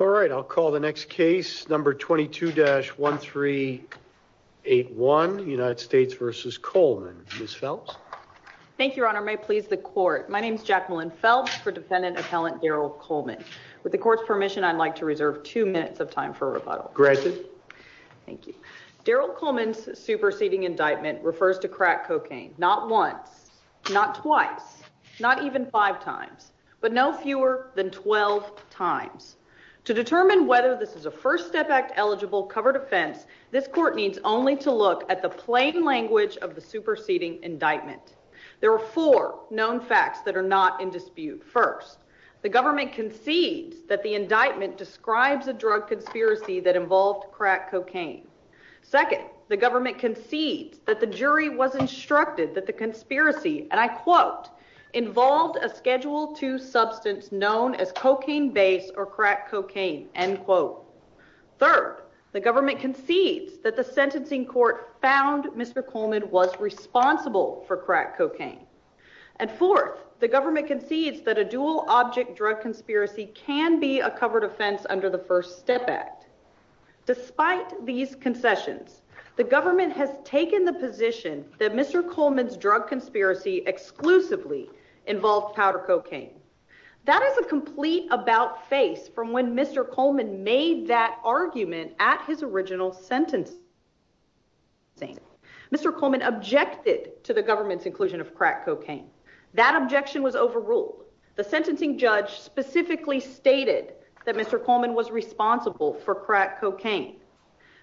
All right, I'll call the next case, number 22-1381, United States v. Coleman, Ms. Phelps. Thank you, Your Honor. May it please the Court. My name is Jacqueline Phelps for Defendant Appellant Daryl Coleman. With the Court's permission, I'd like to reserve two minutes of time for rebuttal. Granted. Thank you. Daryl Coleman's superseding indictment refers to crack cocaine. Not once, not twice, not even five times, but no fewer than 12 times. To determine whether this is a First Step Act-eligible covered offense, this Court needs only to look at the plain language of the superseding indictment. There are four known facts that are not in dispute. First, the government concedes that the indictment describes a drug conspiracy that involved crack cocaine. Second, the government concedes that the jury was instructed that the conspiracy, and I quote, involved a Schedule II substance known as cocaine base or crack cocaine, end quote. Third, the government concedes that the sentencing court found Mr. Coleman was responsible for crack cocaine. And fourth, the government concedes that a dual-object drug conspiracy can be a covered offense under the First Step Act. Despite these concessions, the government has taken the position that Mr. Coleman's drug conspiracy exclusively involved powder cocaine. That is a complete about-face from when Mr. Coleman made that argument at his original sentencing. Mr. Coleman objected to the government's inclusion of crack cocaine. That objection was overruled. The sentencing judge specifically stated that Mr. Coleman was responsible for crack cocaine.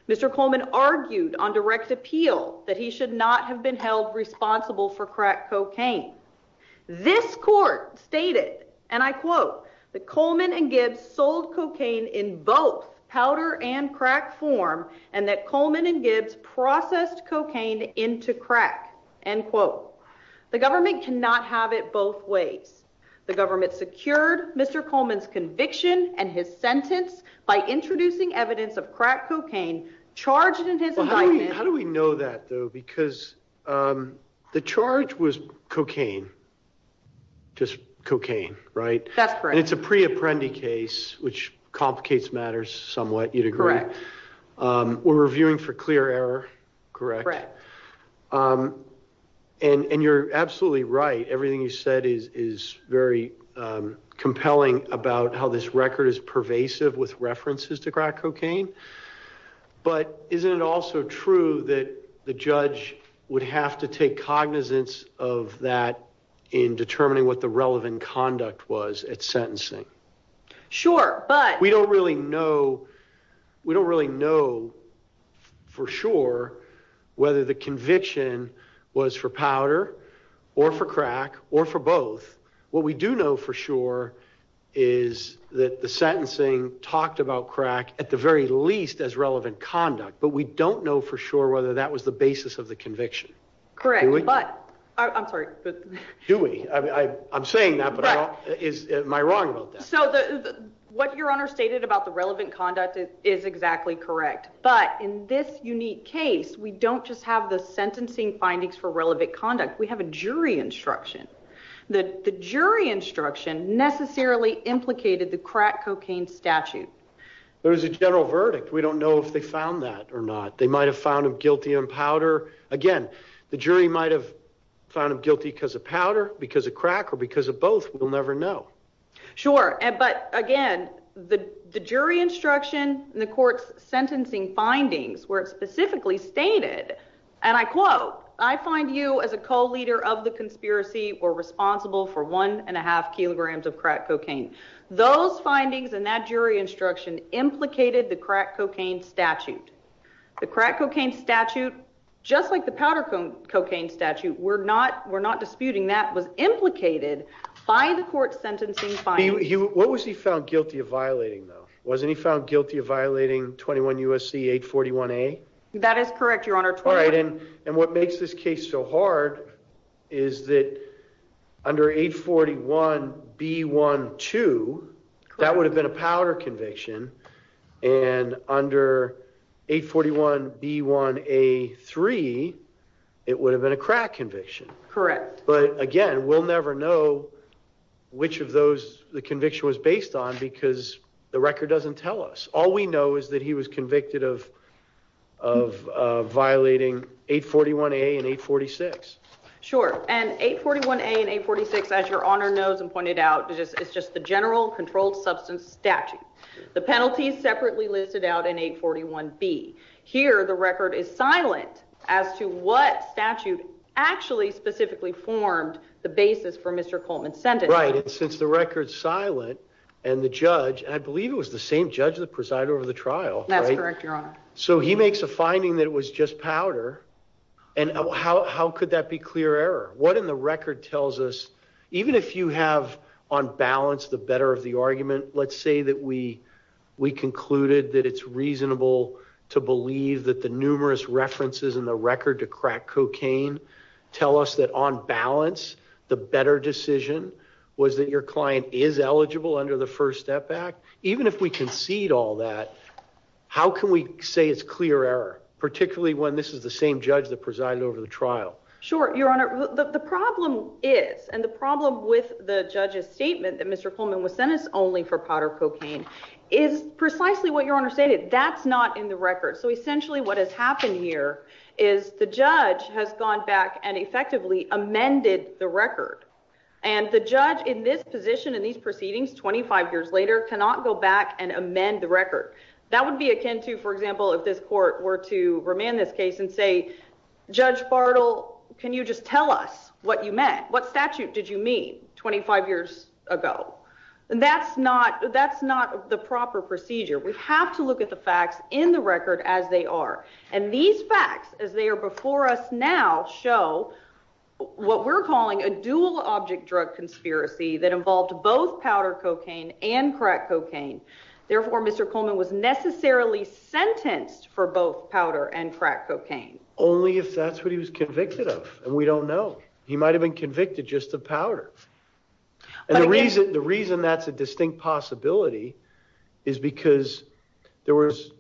Mr. Coleman argued on direct appeal that he should not have been held responsible for crack cocaine. This court stated, and I quote, that Coleman and Gibbs sold cocaine in both powder and crack form, and that Coleman and Gibbs processed cocaine into crack, end quote. The government cannot have it both ways. The government secured Mr. Coleman's conviction and his sentence by introducing evidence of crack cocaine charged in his indictment. How do we know that, though, because the charge was cocaine, just cocaine, right? That's correct. And it's a pre-Apprendi case, which complicates matters somewhat, you'd agree. Correct. We're reviewing for clear error, correct? Correct. And you're absolutely right. Everything you said is very compelling about how this record is pervasive with references to crack cocaine. But isn't it also true that the judge would have to take cognizance of that in determining what the relevant conduct was at sentencing? Sure, but— was for powder or for crack or for both. What we do know for sure is that the sentencing talked about crack at the very least as relevant conduct, but we don't know for sure whether that was the basis of the conviction. Correct. Do we? I'm sorry. Do we? I'm saying that, but am I wrong about that? So what Your Honor stated about the relevant conduct is exactly correct. But in this unique case, we don't just have the sentencing findings for relevant conduct. We have a jury instruction. The jury instruction necessarily implicated the crack cocaine statute. There is a general verdict. We don't know if they found that or not. They might have found him guilty on powder. Again, the jury might have found him guilty because of powder, because of crack, or because of both. We'll never know. Sure, but again, the jury instruction and the court's sentencing findings where it specifically stated, and I quote, I find you as a co-leader of the conspiracy were responsible for one and a half kilograms of crack cocaine. Those findings and that jury instruction implicated the crack cocaine statute. The crack cocaine statute, just like the powder cocaine statute, we're not disputing that, was implicated by the court's sentencing findings. What was he found guilty of violating, though? Wasn't he found guilty of violating 21 U.S.C. 841A? That is correct, Your Honor. All right. And what makes this case so hard is that under 841B12, that would have been a powder conviction. And under 841B1A3, it would have been a crack conviction. Correct. But again, we'll never know which of those the conviction was based on because the record doesn't tell us. All we know is that he was convicted of violating 841A and 846. Sure, and 841A and 846, as Your Honor knows and pointed out, it's just the general controlled substance statute. The penalty is separately listed out in 841B. Here, the record is silent as to what statute actually specifically formed the basis for Mr. Coleman's sentence. Right, and since the record's silent and the judge, and I believe it was the same judge that presided over the trial. That's correct, Your Honor. So he makes a finding that it was just powder, and how could that be clear error? What in the record tells us, even if you have on balance the better of the argument, let's say that we concluded that it's reasonable to believe that the numerous references in the record to crack cocaine tell us that on balance the better decision was that your client is eligible under the First Step Act. Even if we concede all that, how can we say it's clear error, particularly when this is the same judge that presided over the trial? Sure, Your Honor. The problem is, and the problem with the judge's statement that Mr. Coleman was sentenced only for powder cocaine is precisely what Your Honor stated. That's not in the record. So essentially what has happened here is the judge has gone back and effectively amended the record. And the judge in this position, in these proceedings, 25 years later, cannot go back and amend the record. That would be akin to, for example, if this court were to remand this case and say, Judge Bartle, can you just tell us what you meant? What statute did you mean 25 years ago? That's not the proper procedure. We have to look at the facts in the record as they are. And these facts, as they are before us now, show what we're calling a dual-object drug conspiracy that involved both powder cocaine and crack cocaine. Therefore, Mr. Coleman was necessarily sentenced for both powder and crack cocaine. Only if that's what he was convicted of. And we don't know. He might have been convicted just of powder. And the reason that's a distinct possibility is because there was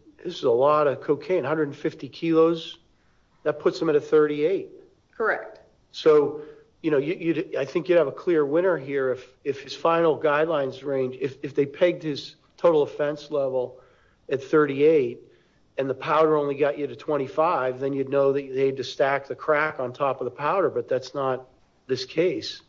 a lot of cocaine, 150 kilos. That puts him at a 38. Correct. So I think you'd have a clear winner here if his final guidelines range, if they pegged his total offense level at 38 and the powder only got you to 25, then you'd know that they had to stack the crack on top of the powder. But that's not this case.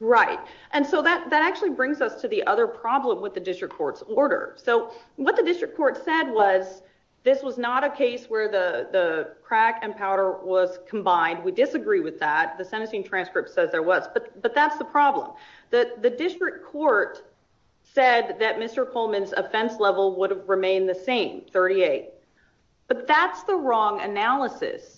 Right. And so that actually brings us to the other problem with the district court's order. So what the district court said was this was not a case where the crack and powder was combined. We disagree with that. The sentencing transcript says there was. But that's the problem. The district court said that Mr. Coleman's offense level would have remained the same, 38. But that's the wrong analysis.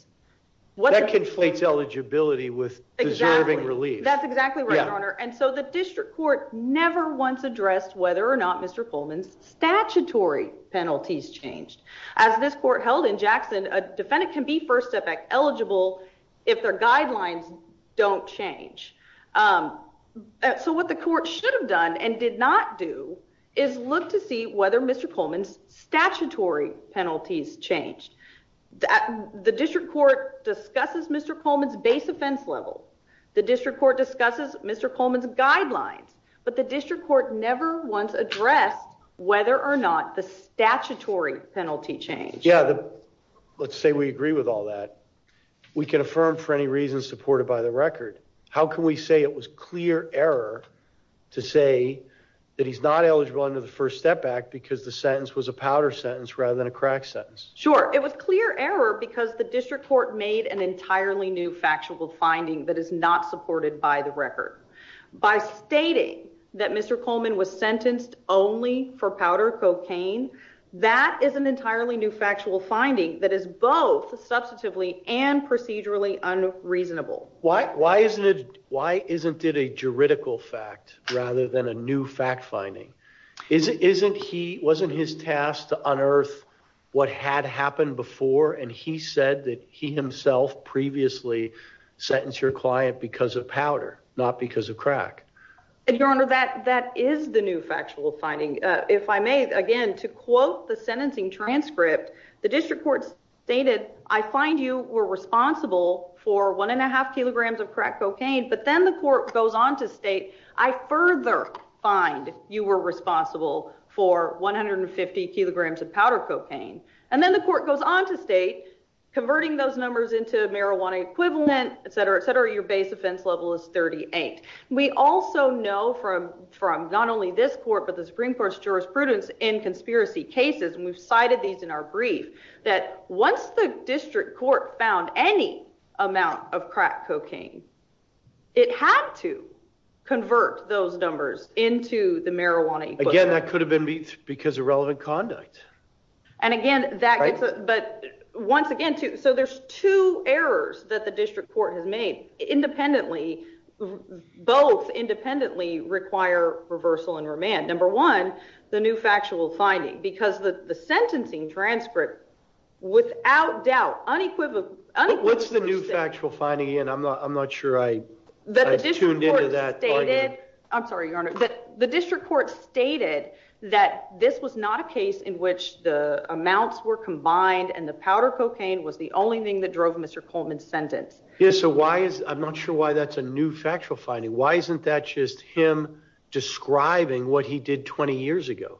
That conflates eligibility with deserving relief. That's exactly right, Your Honor. And so the district court never once addressed whether or not Mr. Coleman's statutory penalties changed. As this court held in Jackson, a defendant can be first step eligible if their guidelines don't change. So what the court should have done and did not do is look to see whether Mr. Coleman's statutory penalties changed. The district court discusses Mr. Coleman's base offense level. The district court discusses Mr. Coleman's guidelines. But the district court never once addressed whether or not the statutory penalty changed. Yeah. Let's say we agree with all that. We can affirm for any reason supported by the record. How can we say it was clear error to say that he's not eligible under the First Step Act because the sentence was a powder sentence rather than a crack sentence? Sure. It was clear error because the district court made an entirely new factual finding that is not supported by the record. By stating that Mr. Coleman was sentenced only for powder cocaine, that is an entirely new factual finding that is both substantively and procedurally unreasonable. Why? Why isn't it? Why isn't it a juridical fact rather than a new fact finding? Isn't he wasn't his task to unearth what had happened before? And he said that he himself previously sentenced your client because of powder, not because of crack. Your Honor, that that is the new factual finding. Again, to quote the sentencing transcript, the district court stated, I find you were responsible for one and a half kilograms of crack cocaine. But then the court goes on to state, I further find you were responsible for one hundred and fifty kilograms of powder cocaine. And then the court goes on to state converting those numbers into marijuana equivalent, et cetera, et cetera. Your base offense level is thirty eight. We also know from from not only this court, but the Supreme Court's jurisprudence in conspiracy cases. And we've cited these in our brief that once the district court found any amount of crack cocaine, it had to convert those numbers into the marijuana. Again, that could have been because of relevant conduct. And again, that but once again, too. So there's two errors that the district court has made independently. Both independently require reversal and remand. Number one, the new factual finding, because the sentencing transcript, without doubt, unequivocal. What's the new factual finding? And I'm not I'm not sure I tuned into that. I'm sorry, your honor, that the district court stated that this was not a case in which the amounts were combined and the powder cocaine was the only thing that drove Mr. Coleman's sentence. Yes. So why is I'm not sure why that's a new factual finding. Why isn't that just him describing what he did 20 years ago?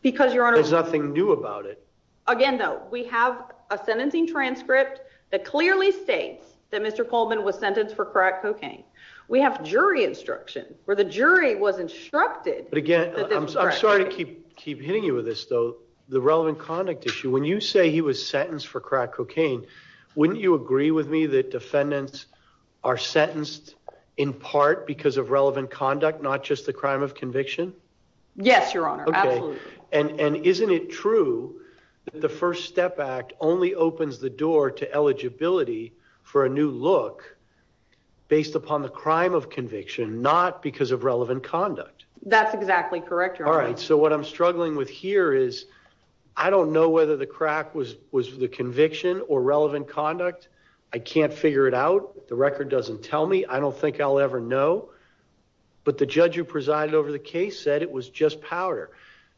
Because your honor, there's nothing new about it. Again, though, we have a sentencing transcript that clearly states that Mr. Coleman was sentenced for crack cocaine. We have jury instruction where the jury was instructed. But again, I'm sorry to keep keep hitting you with this, though, the relevant conduct issue. When you say he was sentenced for crack cocaine, wouldn't you agree with me that defendants are sentenced in part because of relevant conduct, not just the crime of conviction? Yes, your honor. And isn't it true that the First Step Act only opens the door to eligibility for a new look based upon the crime of conviction, not because of relevant conduct? That's exactly correct. All right. So what I'm struggling with here is I don't know whether the crack was was the conviction or relevant conduct. I can't figure it out. The record doesn't tell me. I don't think I'll ever know. But the judge who presided over the case said it was just powder.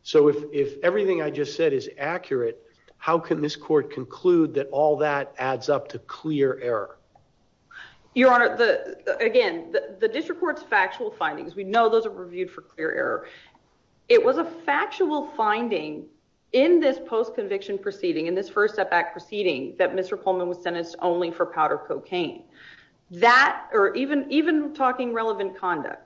So if if everything I just said is accurate, how can this court conclude that all that adds up to clear error? Your honor, the again, the district court's factual findings, we know those are reviewed for clear error. It was a factual finding in this post-conviction proceeding in this First Step Act proceeding that Mr. Coleman was sentenced only for powder cocaine. That or even even talking relevant conduct,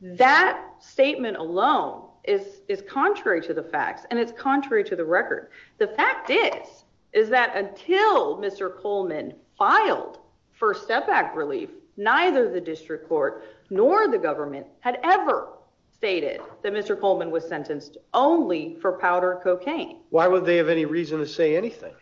that statement alone is is contrary to the facts and it's contrary to the record. The fact is, is that until Mr. Coleman filed First Step Act relief, neither the district court nor the government had ever stated that Mr. Coleman was sentenced only for powder cocaine. Why would they have any reason to say anything?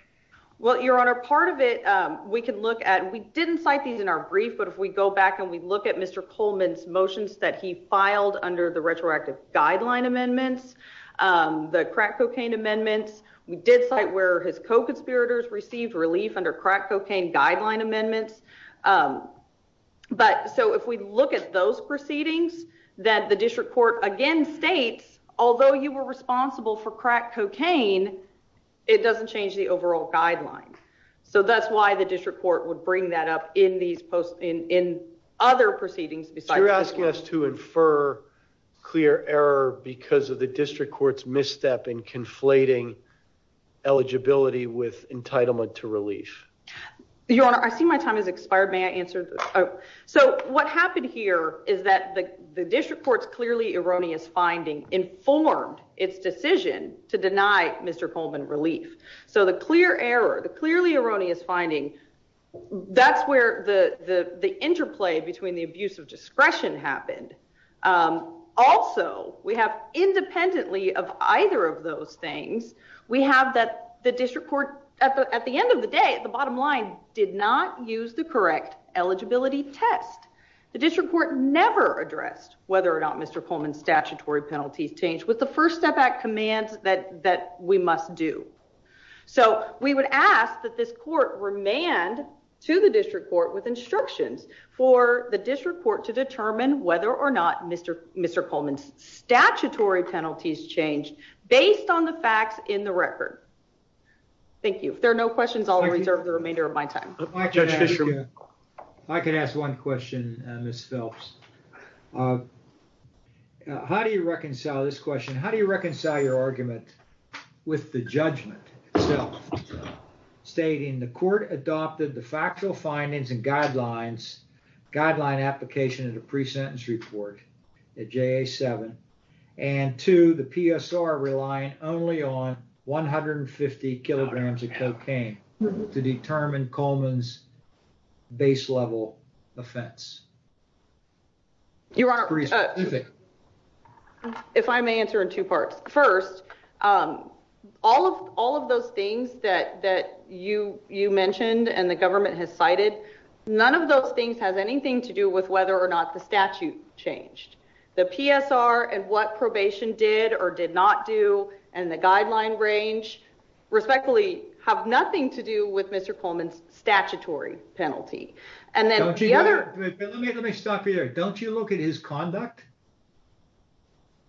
Well, your honor, part of it we can look at. We didn't cite these in our brief. But if we go back and we look at Mr. Coleman's motions that he filed under the retroactive guideline amendments, the crack cocaine amendments, we did cite where his co-conspirators received relief under crack cocaine guideline amendments. But so if we look at those proceedings that the district court again states, although you were responsible for crack cocaine, it doesn't change the overall guideline. So that's why the district court would bring that up in these posts in other proceedings. You're asking us to infer clear error because of the district court's misstep in conflating eligibility with entitlement to relief. Your honor, I see my time has expired. May I answer? So what happened here is that the district court's clearly erroneous finding informed its decision to deny Mr. Coleman relief. So the clear error, the clearly erroneous finding, that's where the interplay between the abuse of discretion happened. Also, we have independently of either of those things. We have that the district court at the end of the day, at the bottom line, did not use the correct eligibility test. The district court never addressed whether or not Mr. Coleman's statutory penalties changed with the First Step Act commands that we must do. So we would ask that this court remand to the district court with instructions for the district court to determine whether or not Mr. Coleman's statutory penalties changed based on the facts in the record. Thank you. If there are no questions, I'll reserve the remainder of my time. I can ask one question, Ms. Phelps. How do you reconcile this question? How do you reconcile your argument with the judgment itself, stating the court adopted the factual findings and guidelines, guideline application of the pre-sentence report at JA-7, and two, the PSR relying only on 150 kilograms of cocaine to determine Coleman's base level offense? Your Honor, if I may answer in two parts. First, all of those things that you mentioned and the government has cited, none of those things has anything to do with whether or not the statute changed. The PSR and what probation did or did not do and the guideline range respectfully have nothing to do with Mr. Coleman's statutory penalty. Let me stop you there. Don't you look at his conduct?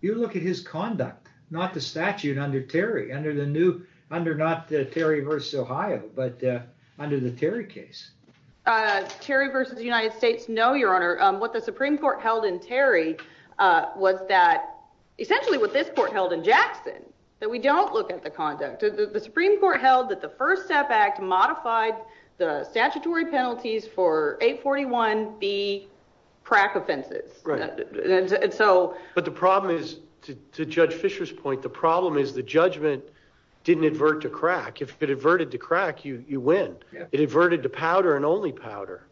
You look at his conduct, not the statute under Terry, under the new, under not the Terry v. Ohio, but under the Terry case. Terry v. United States, no, Your Honor. What the Supreme Court held in Terry was that, essentially what this court held in Jackson, that we don't look at the conduct. The Supreme Court held that the First Step Act modified the statutory penalties for 841B crack offenses. But the problem is, to Judge Fisher's point, the problem is the judgment didn't advert to crack. If it adverted to crack, you win. It adverted to powder and only powder.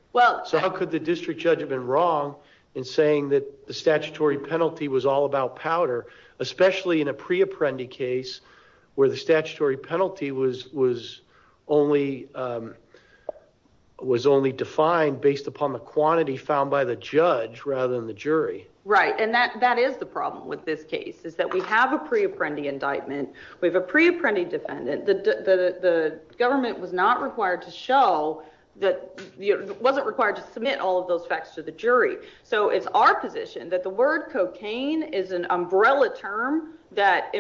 So how could the district judge have been wrong in saying that the statutory penalty was all about powder, especially in a pre-apprendi case where the statutory penalty was only defined based upon the quantity found by the judge rather than the jury? Right, and that is the problem with this case, is that we have a pre-apprendi indictment, we have a pre-apprendi defendant. The government was not required to show, wasn't required to submit all of those facts to the jury. So it's our position that the word cocaine is an umbrella term that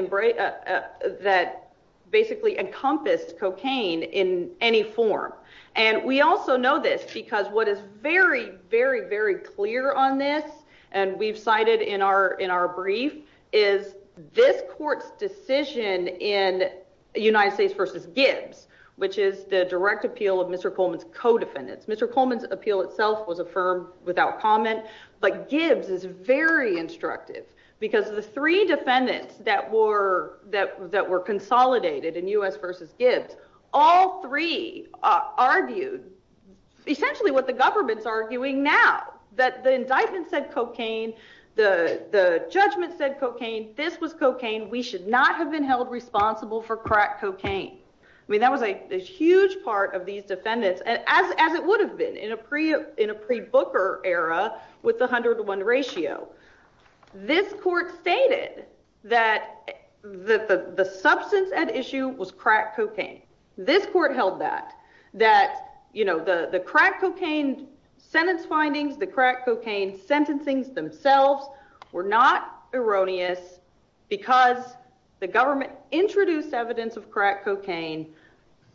basically encompassed cocaine in any form. And we also know this, because what is very, very, very clear on this, and we've cited in our brief, is this court's decision in United States v. Gibbs, which is the direct appeal of Mr. Coleman's co-defendants. Mr. Coleman's appeal itself was affirmed without comment, but Gibbs is very instructive, because the three defendants that were consolidated in U.S. v. Gibbs, all three argued essentially what the government's arguing now, that the indictment said cocaine, the judgment said cocaine, this was cocaine, we should not have been held responsible for crack cocaine. I mean, that was a huge part of these defendants, as it would have been in a pre-Booker era with the 101 ratio. This court stated that the substance at issue was crack cocaine. This court held that, that the crack cocaine sentence findings, the crack cocaine sentencings themselves were not erroneous, because the government introduced evidence of crack cocaine,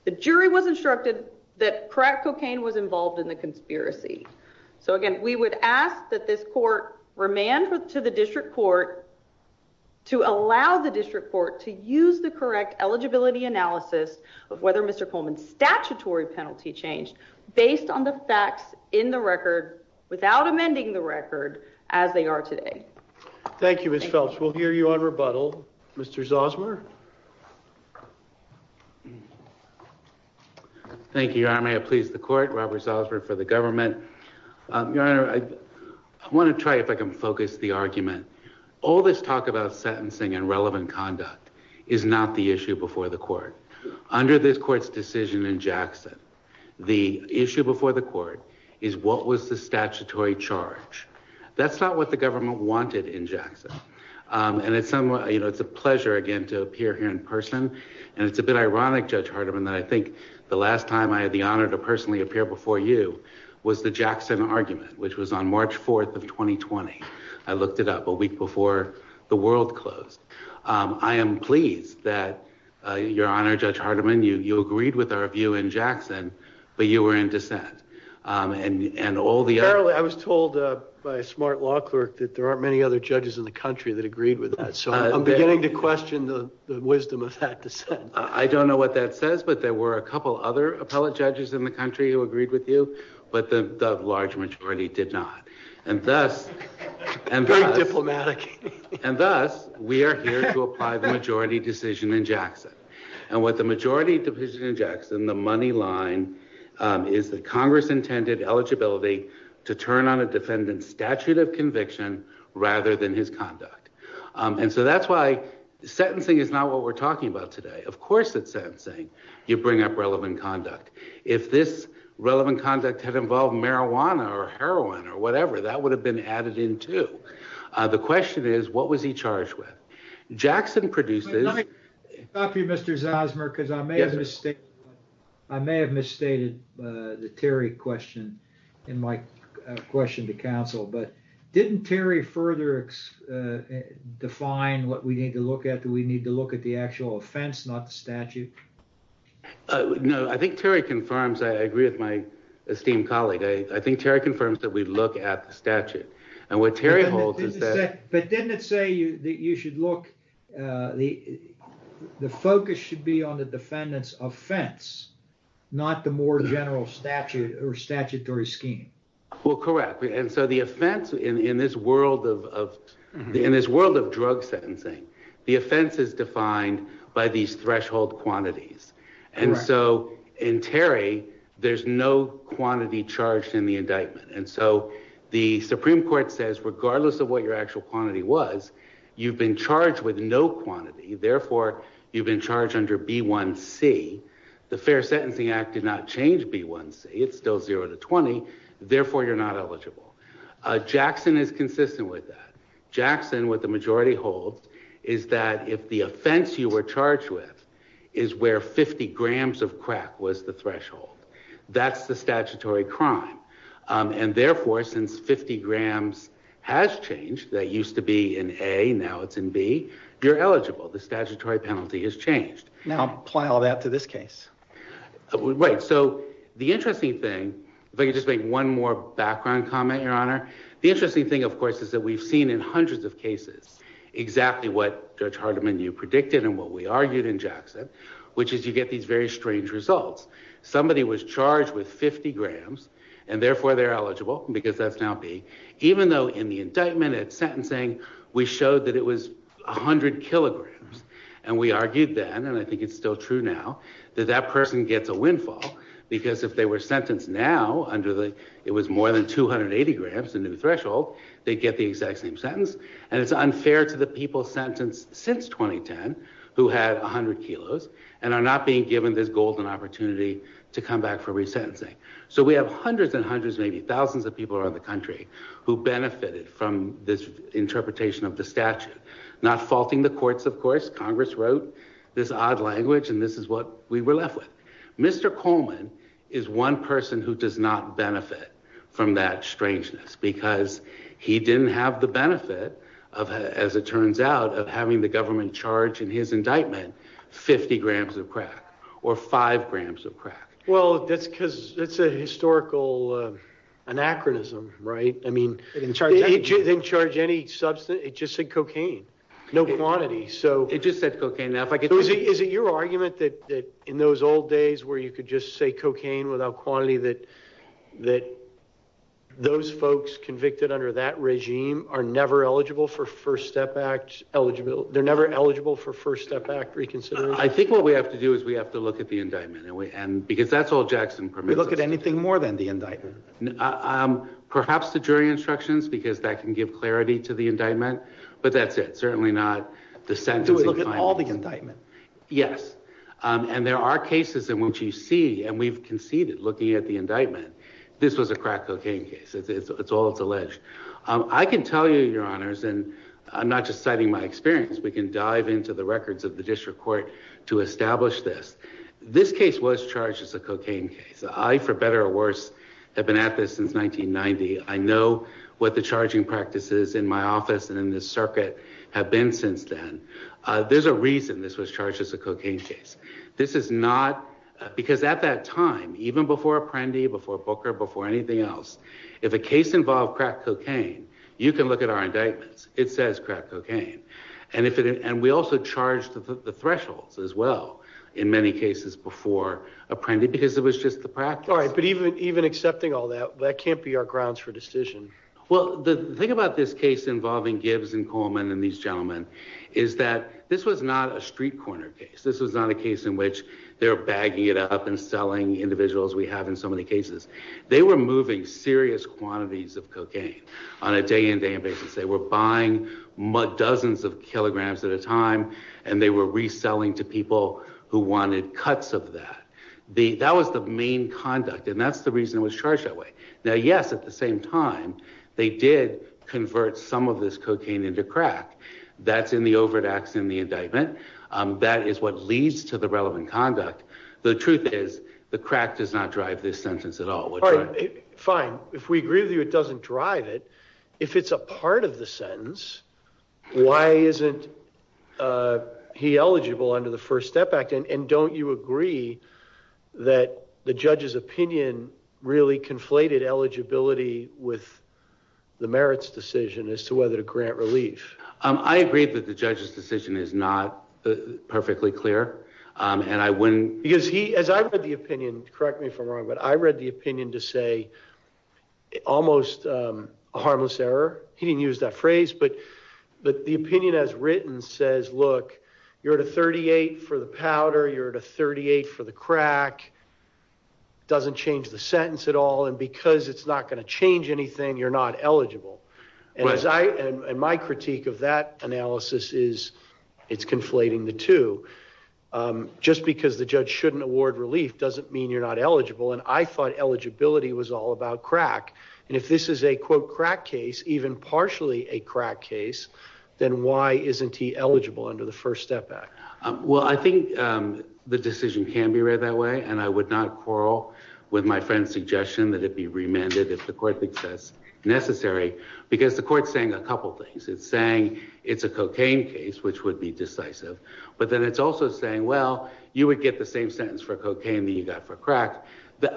the jury was instructed that crack cocaine was involved in the conspiracy. So again, we would ask that this court remand to the district court to allow the district court to use the correct eligibility analysis of whether Mr. Coleman's statutory penalty changed based on the facts in the record, without amending the record, as they are today. Thank you, Ms. Phelps. We'll hear you on rebuttal. Mr. Zosmer? Thank you, Your Honor. May it please the court, Robert Zosmer for the government. Your Honor, I want to try if I can focus the argument. All this talk about sentencing and relevant conduct is not the issue before the court. Under this court's decision in Jackson, the issue before the court is what was the statutory charge. And it's somewhat, you know, it's a pleasure again to appear here in person. And it's a bit ironic, Judge Hardiman, that I think the last time I had the honor to personally appear before you was the Jackson argument, which was on March 4th of 2020. I looked it up a week before the world closed. I am pleased that, Your Honor, Judge Hardiman, you agreed with our view in Jackson, but you were in dissent. Apparently, I was told by a smart law clerk that there aren't many other judges in the country that agreed with that. So I'm beginning to question the wisdom of that dissent. I don't know what that says, but there were a couple other appellate judges in the country who agreed with you. But the large majority did not. And thus, we are here to apply the majority decision in Jackson. And what the majority decision in Jackson, the money line, is that Congress intended eligibility to turn on a defendant's statute of conviction rather than his conduct. And so that's why sentencing is not what we're talking about today. Of course, it's sentencing. You bring up relevant conduct. If this relevant conduct had involved marijuana or heroin or whatever, that would have been added in, too. The question is, what was he charged with? Jackson produces. Thank you, Mr. Zosmer, because I made a mistake. I may have misstated the Terry question in my question to counsel. But didn't Terry further define what we need to look at? Do we need to look at the actual offense, not the statute? No, I think Terry confirms. I agree with my esteemed colleague. I think Terry confirms that we look at the statute. But didn't it say that you should look, the focus should be on the defendant's offense, not the more general statute or statutory scheme? Well, correct. And so the offense in this world of drug sentencing, the offense is defined by these threshold quantities. And so in Terry, there's no quantity charged in the indictment. And so the Supreme Court says, regardless of what your actual quantity was, you've been charged with no quantity. Therefore, you've been charged under B1C. The Fair Sentencing Act did not change B1C. It's still zero to 20. Therefore, you're not eligible. Jackson is consistent with that. Jackson, what the majority holds, is that if the offense you were charged with is where 50 grams of crack was the threshold, that's the statutory crime. And therefore, since 50 grams has changed, that used to be in A, now it's in B, you're eligible. The statutory penalty has changed. Now apply all that to this case. Right. So the interesting thing, if I could just make one more background comment, Your Honor. The interesting thing, of course, is that we've seen in hundreds of cases exactly what Judge Hardiman and you predicted and what we argued in Jackson, which is you get these very strange results. Somebody was charged with 50 grams and therefore they're eligible because that's now B, even though in the indictment at sentencing, we showed that it was 100 kilograms. And we argued then, and I think it's still true now, that that person gets a windfall because if they were sentenced now under the, it was more than 280 grams, a new threshold, they'd get the exact same sentence. And it's unfair to the people sentenced since 2010 who had 100 kilos and are not being given this golden opportunity to come back for resentencing. So we have hundreds and hundreds, maybe thousands of people around the country who benefited from this interpretation of the statute. Not faulting the courts, of course. Congress wrote this odd language and this is what we were left with. Mr. Coleman is one person who does not benefit from that strangeness because he didn't have the benefit of, as it turns out, of having the government charge in his indictment 50 grams of crack or five grams of crack. Well, that's because it's a historical anachronism, right? I mean, it didn't charge any substance. It just said cocaine, no quantity. So it just said cocaine. Is it your argument that in those old days where you could just say cocaine without quantity, that those folks convicted under that regime are never eligible for First Step Act? They're never eligible for First Step Act reconsideration? I think what we have to do is we have to look at the indictment and because that's all Jackson permits us. We look at anything more than the indictment? Perhaps the jury instructions because that can give clarity to the indictment, but that's it. Do we look at all the indictment? Yes, and there are cases in which you see, and we've conceded looking at the indictment, this was a crack cocaine case. It's all that's alleged. I can tell you, Your Honors, and I'm not just citing my experience. We can dive into the records of the district court to establish this. This case was charged as a cocaine case. I, for better or worse, have been at this since 1990. I know what the charging practices in my office and in this circuit have been since then. There's a reason this was charged as a cocaine case. This is not because at that time, even before Apprendi, before Booker, before anything else, if a case involved crack cocaine, you can look at our indictments. It says crack cocaine, and we also charged the thresholds as well in many cases before Apprendi because it was just the practice. All right, but even accepting all that, that can't be our grounds for decision. Well, the thing about this case involving Gibbs and Coleman and these gentlemen is that this was not a street corner case. This was not a case in which they're bagging it up and selling individuals we have in so many cases. They were moving serious quantities of cocaine on a day-in, day-out basis. They were buying dozens of kilograms at a time, and they were reselling to people who wanted cuts of that. That was the main conduct, and that's the reason it was charged that way. Now, yes, at the same time, they did convert some of this cocaine into crack. That's in the overt acts in the indictment. That is what leads to the relevant conduct. The truth is the crack does not drive this sentence at all. All right, fine. If we agree with you it doesn't drive it, if it's a part of the sentence, why isn't he eligible under the First Step Act? And don't you agree that the judge's opinion really conflated eligibility with the merits decision as to whether to grant relief? I agree that the judge's decision is not perfectly clear, and I wouldn't— Because he—as I read the opinion, correct me if I'm wrong, but I read the opinion to say almost a harmless error. He didn't use that phrase, but the opinion as written says, look, you're at a 38 for the powder, you're at a 38 for the crack. It doesn't change the sentence at all, and because it's not going to change anything, you're not eligible. And my critique of that analysis is it's conflating the two. Just because the judge shouldn't award relief doesn't mean you're not eligible, and I thought eligibility was all about crack. And if this is a, quote, crack case, even partially a crack case, then why isn't he eligible under the First Step Act? Well, I think the decision can be read that way, and I would not quarrel with my friend's suggestion that it be remanded if the court thinks that's necessary. Because the court's saying a couple things. It's saying it's a cocaine case, which would be decisive, but then it's also saying, well, you would get the same sentence for cocaine that you got for crack.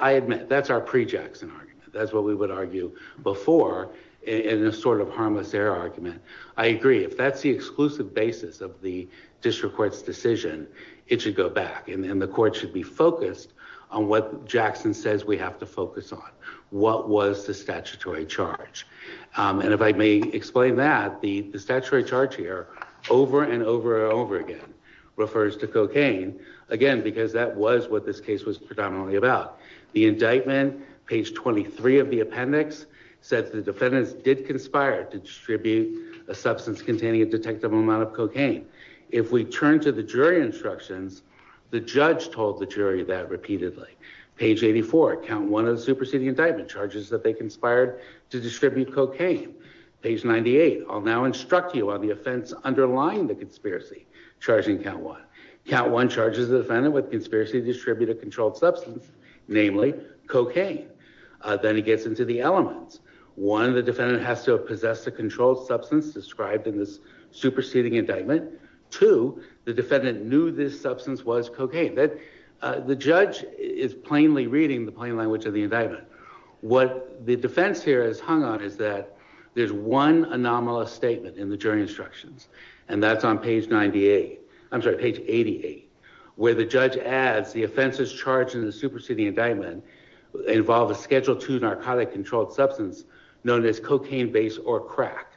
I admit, that's our pre-Jackson argument. That's what we would argue before in a sort of harmless error argument. I agree. If that's the exclusive basis of the district court's decision, it should go back, and the court should be focused on what Jackson says we have to focus on. What was the statutory charge? And if I may explain that, the statutory charge here over and over and over again refers to cocaine, again, because that was what this case was predominantly about. The indictment, page 23 of the appendix, says the defendants did conspire to distribute a substance containing a detectable amount of cocaine. If we turn to the jury instructions, the judge told the jury that repeatedly. Page 84, count one of the superseding indictment, charges that they conspired to distribute cocaine. Page 98, I'll now instruct you on the offense underlying the conspiracy, charging count one. Count one charges the defendant with conspiracy to distribute a controlled substance, namely cocaine. Then it gets into the elements. One, the defendant has to have possessed a controlled substance described in this superseding indictment. Two, the defendant knew this substance was cocaine. The judge is plainly reading the plain language of the indictment. What the defense here is hung on is that there's one anomalous statement in the jury instructions, and that's on page 98. I'm sorry, page 88, where the judge adds the offenses charged in the superseding indictment involve a schedule two narcotic controlled substance known as cocaine base or crack.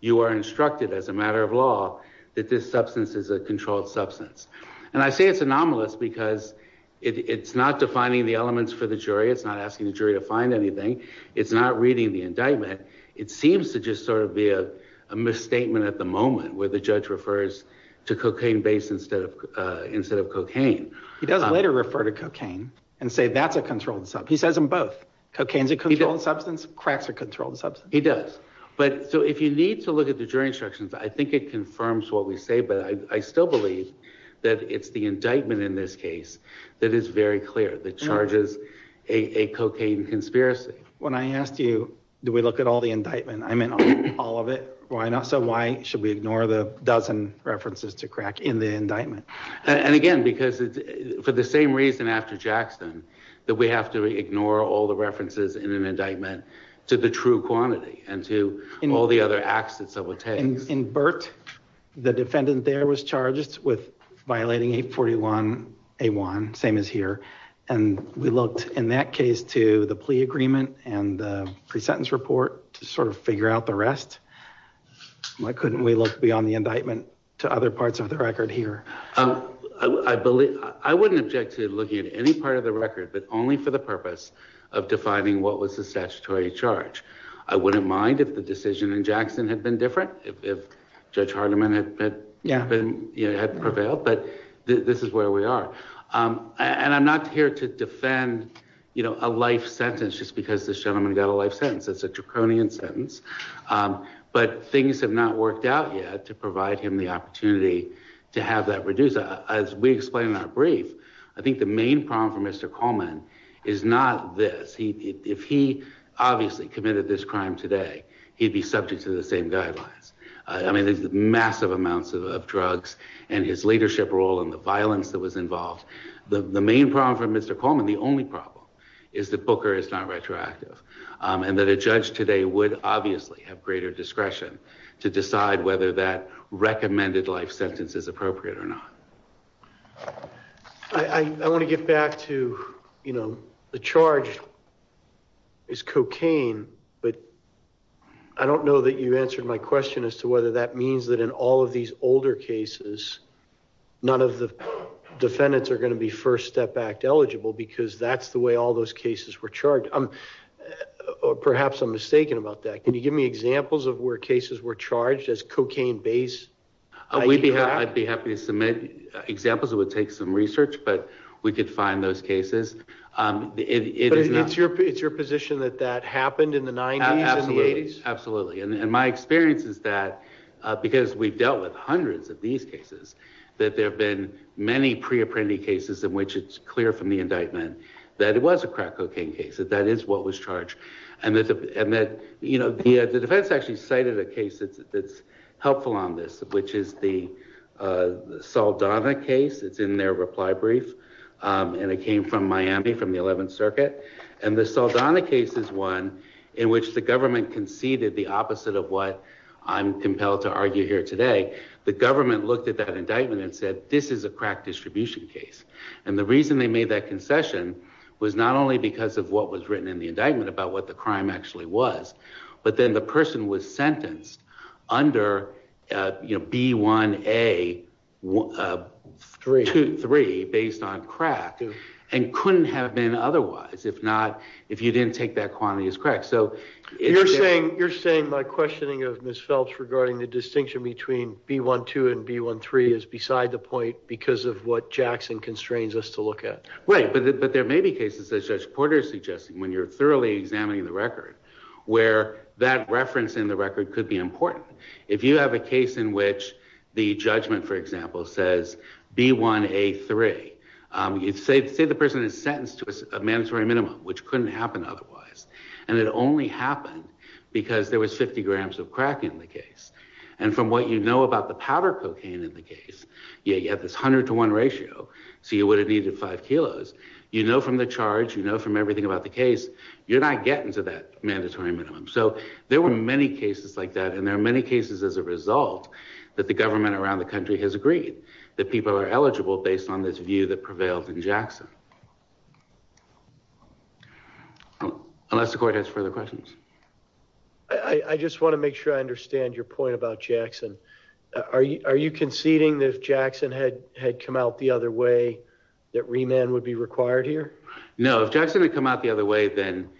You are instructed as a matter of law that this substance is a controlled substance. And I say it's anomalous because it's not defining the elements for the jury. It's not asking the jury to find anything. It's not reading the indictment. It seems to just sort of be a misstatement at the moment where the judge refers to cocaine base instead of instead of cocaine. He does later refer to cocaine and say that's a controlled sub. He says I'm both. Cocaine is a controlled substance. Cracks are controlled substance. He does. But so if you need to look at the jury instructions, I think it confirms what we say. But I still believe that it's the indictment in this case that is very clear that charges a cocaine conspiracy. When I asked you, do we look at all the indictment? I mean, all of it. Why not? So why should we ignore the dozen references to crack in the indictment? And again, because it's for the same reason after Jackson that we have to ignore all the references in an indictment to the true quantity and to all the other acts. And in Burt, the defendant there was charged with violating 841 a one. Same as here. And we looked in that case to the plea agreement and the presentence report to sort of figure out the rest. Why couldn't we look beyond the indictment to other parts of the record here? I believe I wouldn't object to looking at any part of the record, but only for the purpose of defining what was the statutory charge. I wouldn't mind if the decision in Jackson had been different. If Judge Hardiman had been, you know, had prevailed. But this is where we are. And I'm not here to defend, you know, a life sentence just because this gentleman got a life sentence. It's a draconian sentence. But things have not worked out yet to provide him the opportunity to have that reduced. As we explain in our brief, I think the main problem for Mr. Coleman is not this. If he obviously committed this crime today, he'd be subject to the same guidelines. I mean, there's massive amounts of drugs and his leadership role and the violence that was involved. The main problem for Mr. Coleman, the only problem, is that Booker is not retroactive. And that a judge today would obviously have greater discretion to decide whether that recommended life sentence is appropriate or not. I want to get back to, you know, the charge is cocaine. But I don't know that you answered my question as to whether that means that in all of these older cases, none of the defendants are going to be First Step Act eligible because that's the way all those cases were charged. Perhaps I'm mistaken about that. Can you give me examples of where cases were charged as cocaine-based? I'd be happy to submit examples. It would take some research, but we could find those cases. But it's your position that that happened in the 90s and the 80s? Absolutely. And my experience is that because we've dealt with hundreds of these cases, that there have been many pre-apprentice cases in which it's clear from the indictment that it was a crack cocaine case, that that is what was charged. And that, you know, the defense actually cited a case that's helpful on this, which is the Saldana case. It's in their reply brief, and it came from Miami from the 11th Circuit. And the Saldana case is one in which the government conceded the opposite of what I'm compelled to argue here today. The government looked at that indictment and said, this is a crack distribution case. And the reason they made that concession was not only because of what was written in the indictment about what the crime actually was, but then the person was sentenced under B1A3 based on crack and couldn't have been otherwise if you didn't take that quantity as crack. You're saying my questioning of Ms. Phelps regarding the distinction between B1-2 and B1-3 is beside the point because of what Jackson constrains us to look at? Right. But there may be cases, as Judge Porter is suggesting, when you're thoroughly examining the record, where that reference in the record could be important. If you have a case in which the judgment, for example, says B1A3, say the person is sentenced to a mandatory minimum, which couldn't happen otherwise, and it only happened because there was 50 grams of crack in the case. And from what you know about the powder cocaine in the case, you have this 100 to 1 ratio, so you would have needed 5 kilos. You know from the charge, you know from everything about the case, you're not getting to that mandatory minimum. So there were many cases like that. And there are many cases as a result that the government around the country has agreed that people are eligible based on this view that prevailed in Jackson. Unless the court has further questions. I just want to make sure I understand your point about Jackson. Are you conceding that if Jackson had come out the other way, that remand would be required here? No, if Jackson had come out the other way, then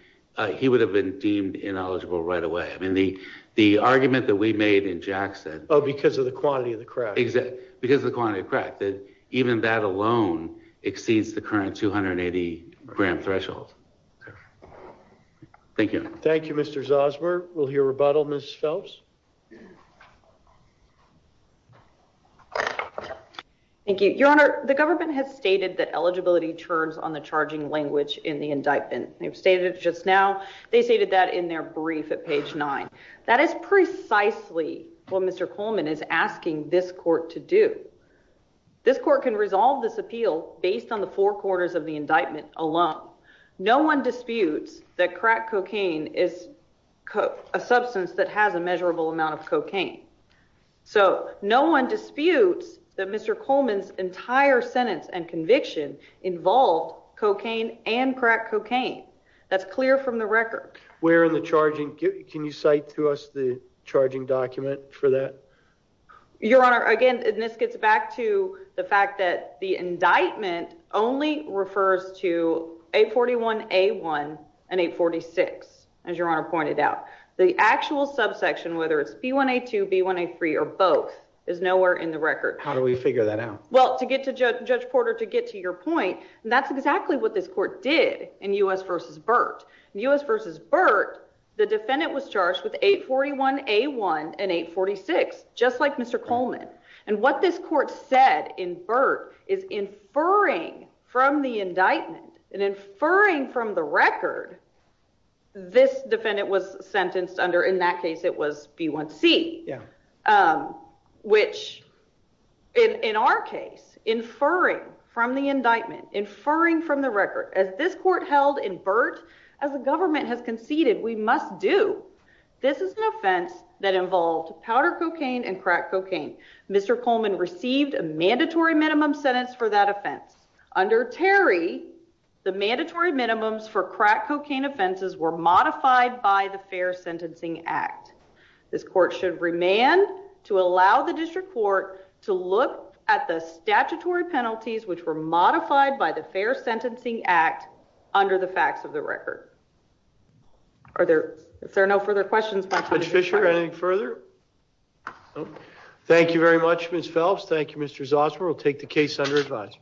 he would have been deemed ineligible right away. I mean, the argument that we made in Jackson. Oh, because of the quantity of the crack. Because of the quantity of crack. Even that alone exceeds the current 280 gram threshold. Thank you. Thank you, Mr. Zosmer. We'll hear rebuttal, Ms. Phelps. Thank you, Your Honor. The government has stated that eligibility turns on the charging language in the indictment. They've stated it just now. They stated that in their brief at page 9. That is precisely what Mr. Coleman is asking this court to do. This court can resolve this appeal based on the four corners of the indictment alone. No one disputes that crack cocaine is a substance that has a measurable amount of cocaine. So no one disputes that Mr. Coleman's entire sentence and conviction involved cocaine and crack cocaine. That's clear from the record. Can you cite to us the charging document for that? Your Honor, again, this gets back to the fact that the indictment only refers to 841A1 and 846, as Your Honor pointed out. The actual subsection, whether it's B1A2, B1A3, or both, is nowhere in the record. How do we figure that out? Well, to get to Judge Porter, to get to your point, that's exactly what this court did in U.S. v. Burt. In U.S. v. Burt, the defendant was charged with 841A1 and 846, just like Mr. Coleman. And what this court said in Burt is inferring from the indictment and inferring from the record, this defendant was sentenced under, in that case, it was B1C. Yeah. Which, in our case, inferring from the indictment, inferring from the record, as this court held in Burt, as the government has conceded, we must do. This is an offense that involved powder cocaine and crack cocaine. Mr. Coleman received a mandatory minimum sentence for that offense. Under Terry, the mandatory minimums for crack cocaine offenses were modified by the Fair Sentencing Act. This court should remand to allow the district court to look at the statutory penalties, which were modified by the Fair Sentencing Act, under the facts of the record. Are there, if there are no further questions... Judge Fischer, anything further? No. Thank you very much, Ms. Phelps. Thank you, Mr. Zosmer. We'll take the case under advisory.